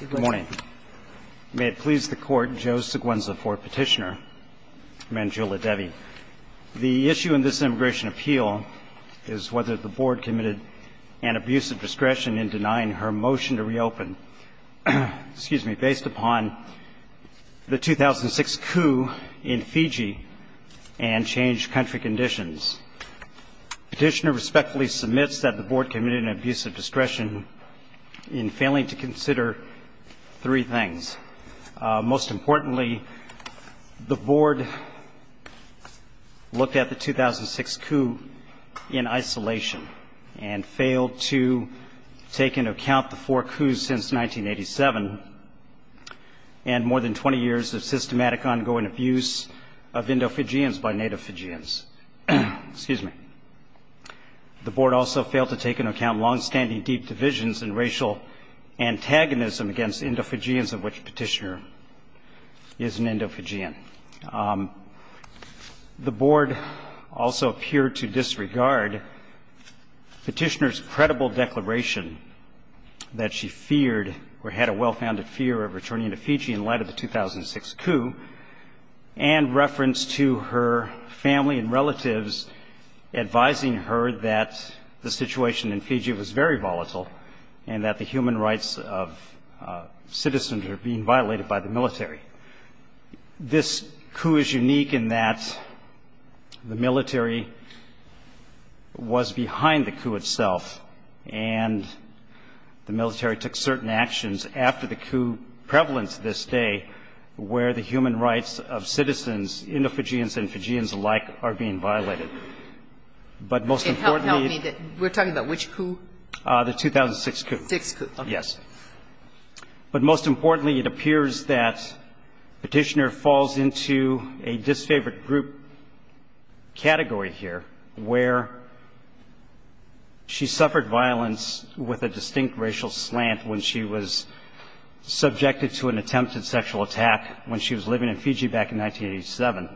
Good morning. May it please the Court, Joe Seguenza for Petitioner, Manjula Devi. The issue in this immigration appeal is whether the Board committed an abuse of discretion in denying her motion to reopen, based upon the 2006 coup in Fiji and changed country conditions. Petitioner respectfully submits that the Board committed an abuse of discretion in failing to consider three things. Most importantly, the Board looked at the 2006 coup in isolation and failed to take into account the four coups since 1987 and more than 20 years of systematic ongoing abuse of Indofijians by Native Fijians. The Board also failed to take into account longstanding deep divisions and racial antagonism against Indofijians, of which Petitioner is an Indofijian. The Board also appeared to disregard Petitioner's credible declaration that she feared or had a well-founded fear of returning to Fiji in light of the 2006 coup and reference to her family and relatives advising her that the situation in Fiji was very volatile and that the human rights of citizens are being violated by the military. This coup is unique in that the military was behind the coup itself, and the military took certain actions after the coup prevalent to this day where the human rights of citizens, Indofijians and Fijians alike, are being violated. But most importantly the... It helped me that we're talking about which coup? The 2006 coup. 2006 coup. Yes. But most importantly it appears that Petitioner falls into a disfavored group category here where she suffered violence with a distinct racial slant when she was subjected to an attempted sexual attack when she was living in Fiji back in 1987.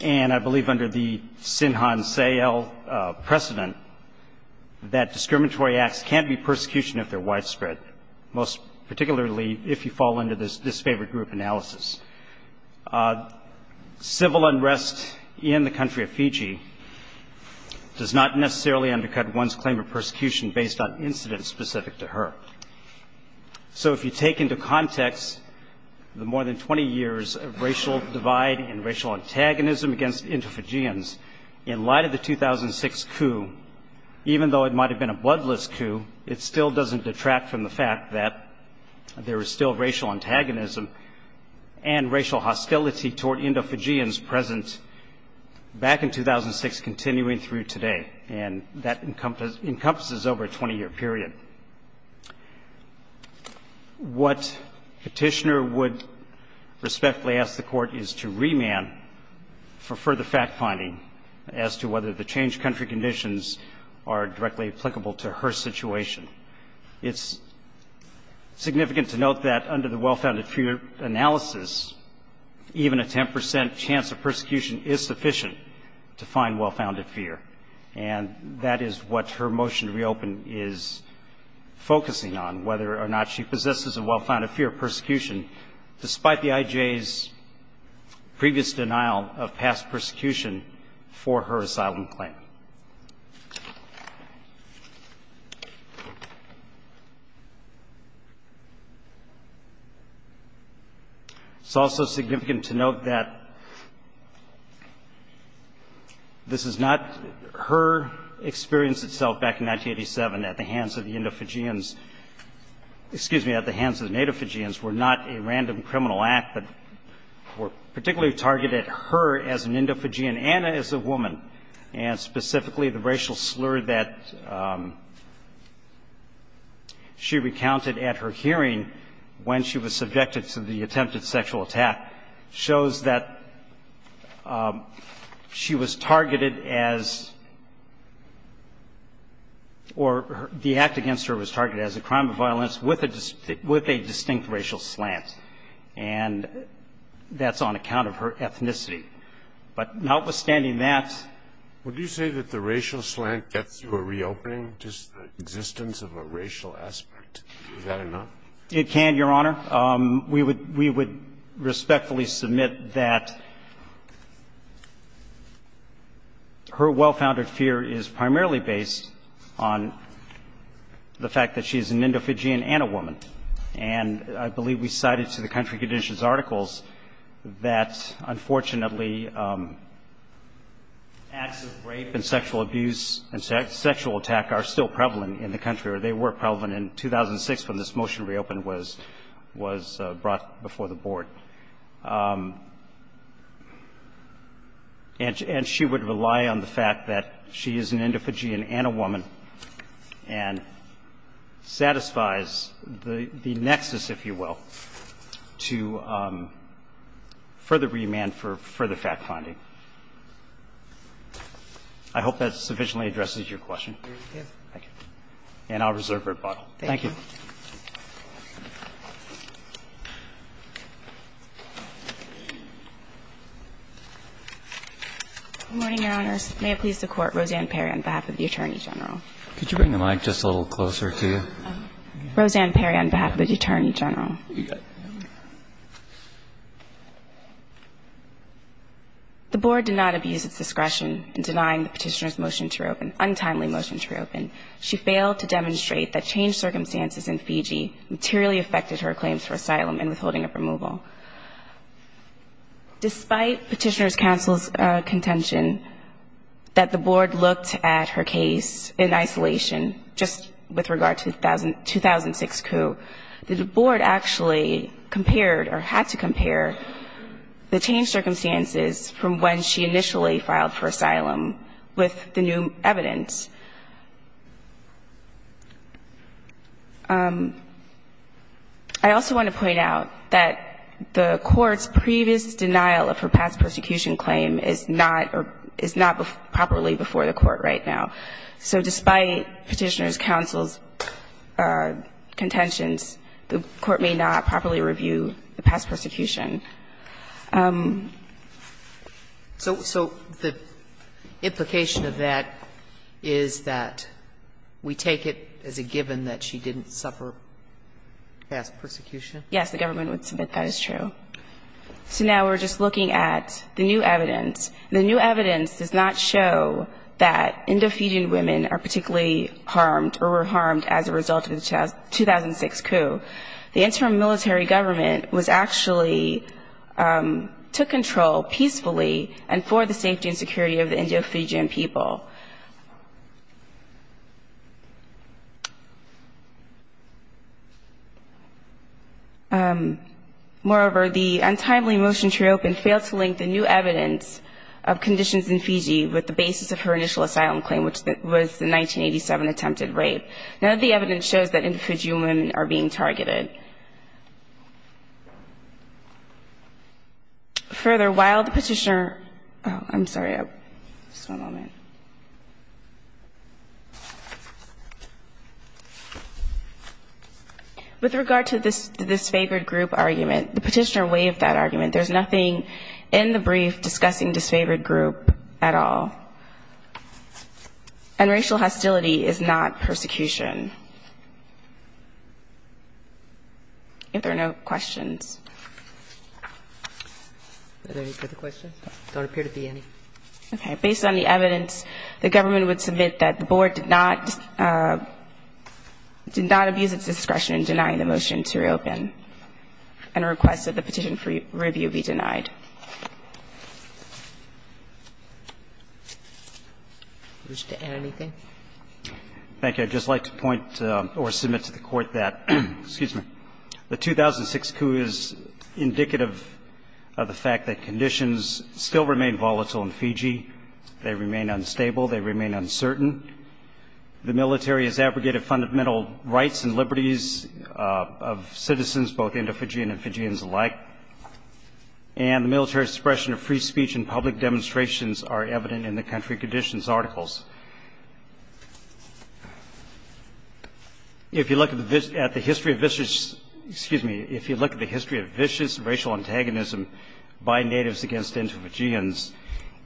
And I believe under the Sinhan Seyal precedent that discriminatory acts can be persecution if they're widespread, most particularly if you fall under this disfavored group analysis. Civil unrest in the country of Fiji does not necessarily undercut one's claim of persecution based on incidents specific to her. So if you take into context the more than 20 years of racial divide and racial antagonism against Indofijians, in light of the 2006 coup, even though it might have been a bloodless coup, it still doesn't detract from the fact that there is still racial antagonism and racial hostility toward Indofijians present back in 2006 continuing through today, and that encompasses over a 20-year period. What Petitioner would respectfully ask the Court is to remand for further fact-finding as to whether the changed country conditions are directly applicable to her situation. It's significant to note that under the well-founded fear analysis, even a 10 percent chance of persecution is sufficient to find well-founded fear. And that is what her motion to reopen is focusing on, whether or not she possesses a well-founded fear of persecution, despite the IJ's previous denial of past persecution for her asylum claim. It's also significant to note that this is not her experience itself back in 1987 at the hands of the Indofijians. Excuse me, at the hands of the Natofijians were not a random criminal act, but were particularly targeted her as an Indofijian and as a woman, and specifically the racial slur that she recounted at her hearing when she was subjected to the attempted sexual attack shows that she was targeted as, or the act against her was targeted as a crime of violence with a distinct racial slant, and that's on account of her ethnicity. But notwithstanding that. Scalia. Would you say that the racial slant gets to a reopening, just the existence of a racial aspect? Is that enough? It can, Your Honor. We would respectfully submit that her well-founded fear is primarily based on the fact that she is an Indofijian and a woman. And I believe we cited to the country conditions articles that unfortunately acts of rape and sexual abuse and sexual attack are still prevalent in the country, or they were prevalent in 2006 when this motion reopened was brought before the board. And she would rely on the fact that she is an Indofijian and a woman and satisfies the nexus, if you will, to further remand for further fact-finding. I hope that sufficiently addresses your question. Thank you. And I'll reserve for rebuttal. Thank you. Good morning, Your Honors. May it please the Court, Roseanne Perry on behalf of the Attorney General. Could you bring the mic just a little closer to you? Roseanne Perry on behalf of the Attorney General. The board did not abuse its discretion in denying the petitioner's motion to reopen, untimely motion to reopen. She failed to demonstrate that changed circumstances in Fiji materially affected her claims for asylum and withholding of removal. Despite petitioner's counsel's contention that the board looked at her case in isolation, just with regard to the 2006 coup, the board actually compared or had to compare the changed circumstances from when she initially filed for asylum with the new evidence. I also want to point out that the Court's previous denial of her past persecution claim is not properly before the Court right now. So despite petitioner's counsel's contentions, the Court may not properly review the past persecution. So the implication of that is that we take it as a given that she didn't suffer past persecution? Yes, the government would submit that as true. So now we're just looking at the new evidence. The new evidence does not show that Indo-Fijian women are particularly harmed or were harmed as a result of the 2006 coup. The interim military government was actually, took control peacefully and for the safety and security of the Indo-Fijian people. Moreover, the untimely motion to reopen failed to link the new evidence of conditions in Fiji with the basis of her initial asylum claim, which was the 1987 attempted rape. None of the evidence shows that Indo-Fijian women are being targeted. Further, while the petitioner, oh, I'm sorry, just one moment. With regard to the disfavored group argument, the petitioner waived that argument. There's nothing in the brief discussing disfavored group at all. And racial hostility is not persecution. If there are no questions. Are there any further questions? There don't appear to be any. Okay. Based on the evidence, the government would submit that the board did not abuse its I'd just like to point or submit to the Court that, excuse me, the 2006 coup is indicative of the fact that conditions still remain volatile in Fiji. They remain unstable. They remain uncertain. The military has abrogated fundamental rights and liberties of citizens, both Indo-Fijian and Fijians alike. And the military's suppression of free speech and public demonstrations are evident in the country conditions articles. If you look at the history of vicious, excuse me, if you look at the history of vicious racial antagonism by natives against Indo-Fijians,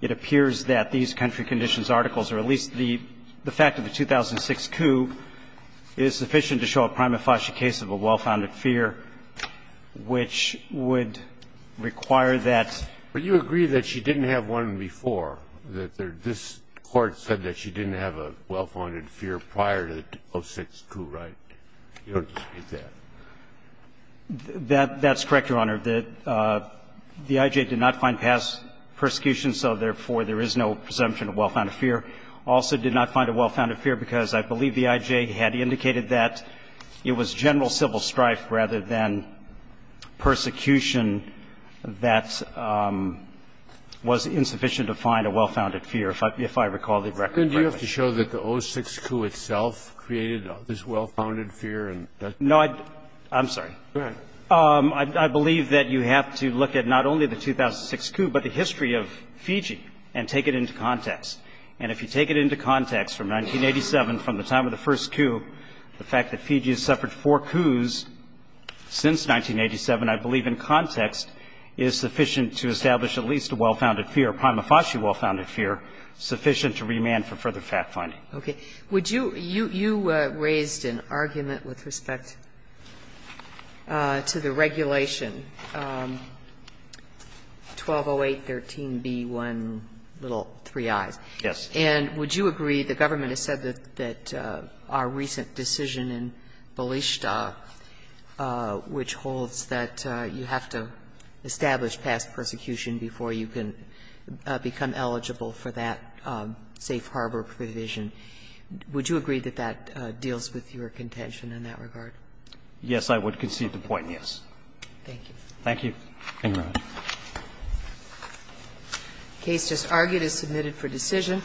it appears that these country conditions articles, or at least the fact of the 2006 coup, is sufficient to show a prima facie case of a well-founded fear, which would require that. But you agree that she didn't have one before, that this Court said that she didn't have a well-founded fear prior to the 2006 coup, right? You don't dispute that. That's correct, Your Honor. The I.J. did not find past persecution, so therefore there is no presumption of well-founded fear. Also did not find a well-founded fear because I believe the I.J. had indicated that it was general civil strife rather than persecution that was insufficient to find a well-founded fear, if I recall the record correctly. Then do you have to show that the 2006 coup itself created this well-founded fear? No. I'm sorry. Go ahead. I believe that you have to look at not only the 2006 coup, but the history of Fiji and take it into context. And if you take it into context, from 1987, from the time of the first coup, the fact that Fiji has suffered four coups since 1987, I believe in context is sufficient to establish at least a well-founded fear, a prima facie well-founded fear, sufficient to remand for further fact-finding. Okay. Would you – you raised an argument with respect to the regulation 1208.13b1 Yes. And would you agree, the government has said that our recent decision in Balishta, which holds that you have to establish past persecution before you can become eligible for that safe harbor provision, would you agree that that deals with your contention in that regard? Yes, I would concede the point, yes. Thank you. Thank you. Thank you, Your Honor. The case just argued is submitted for decision.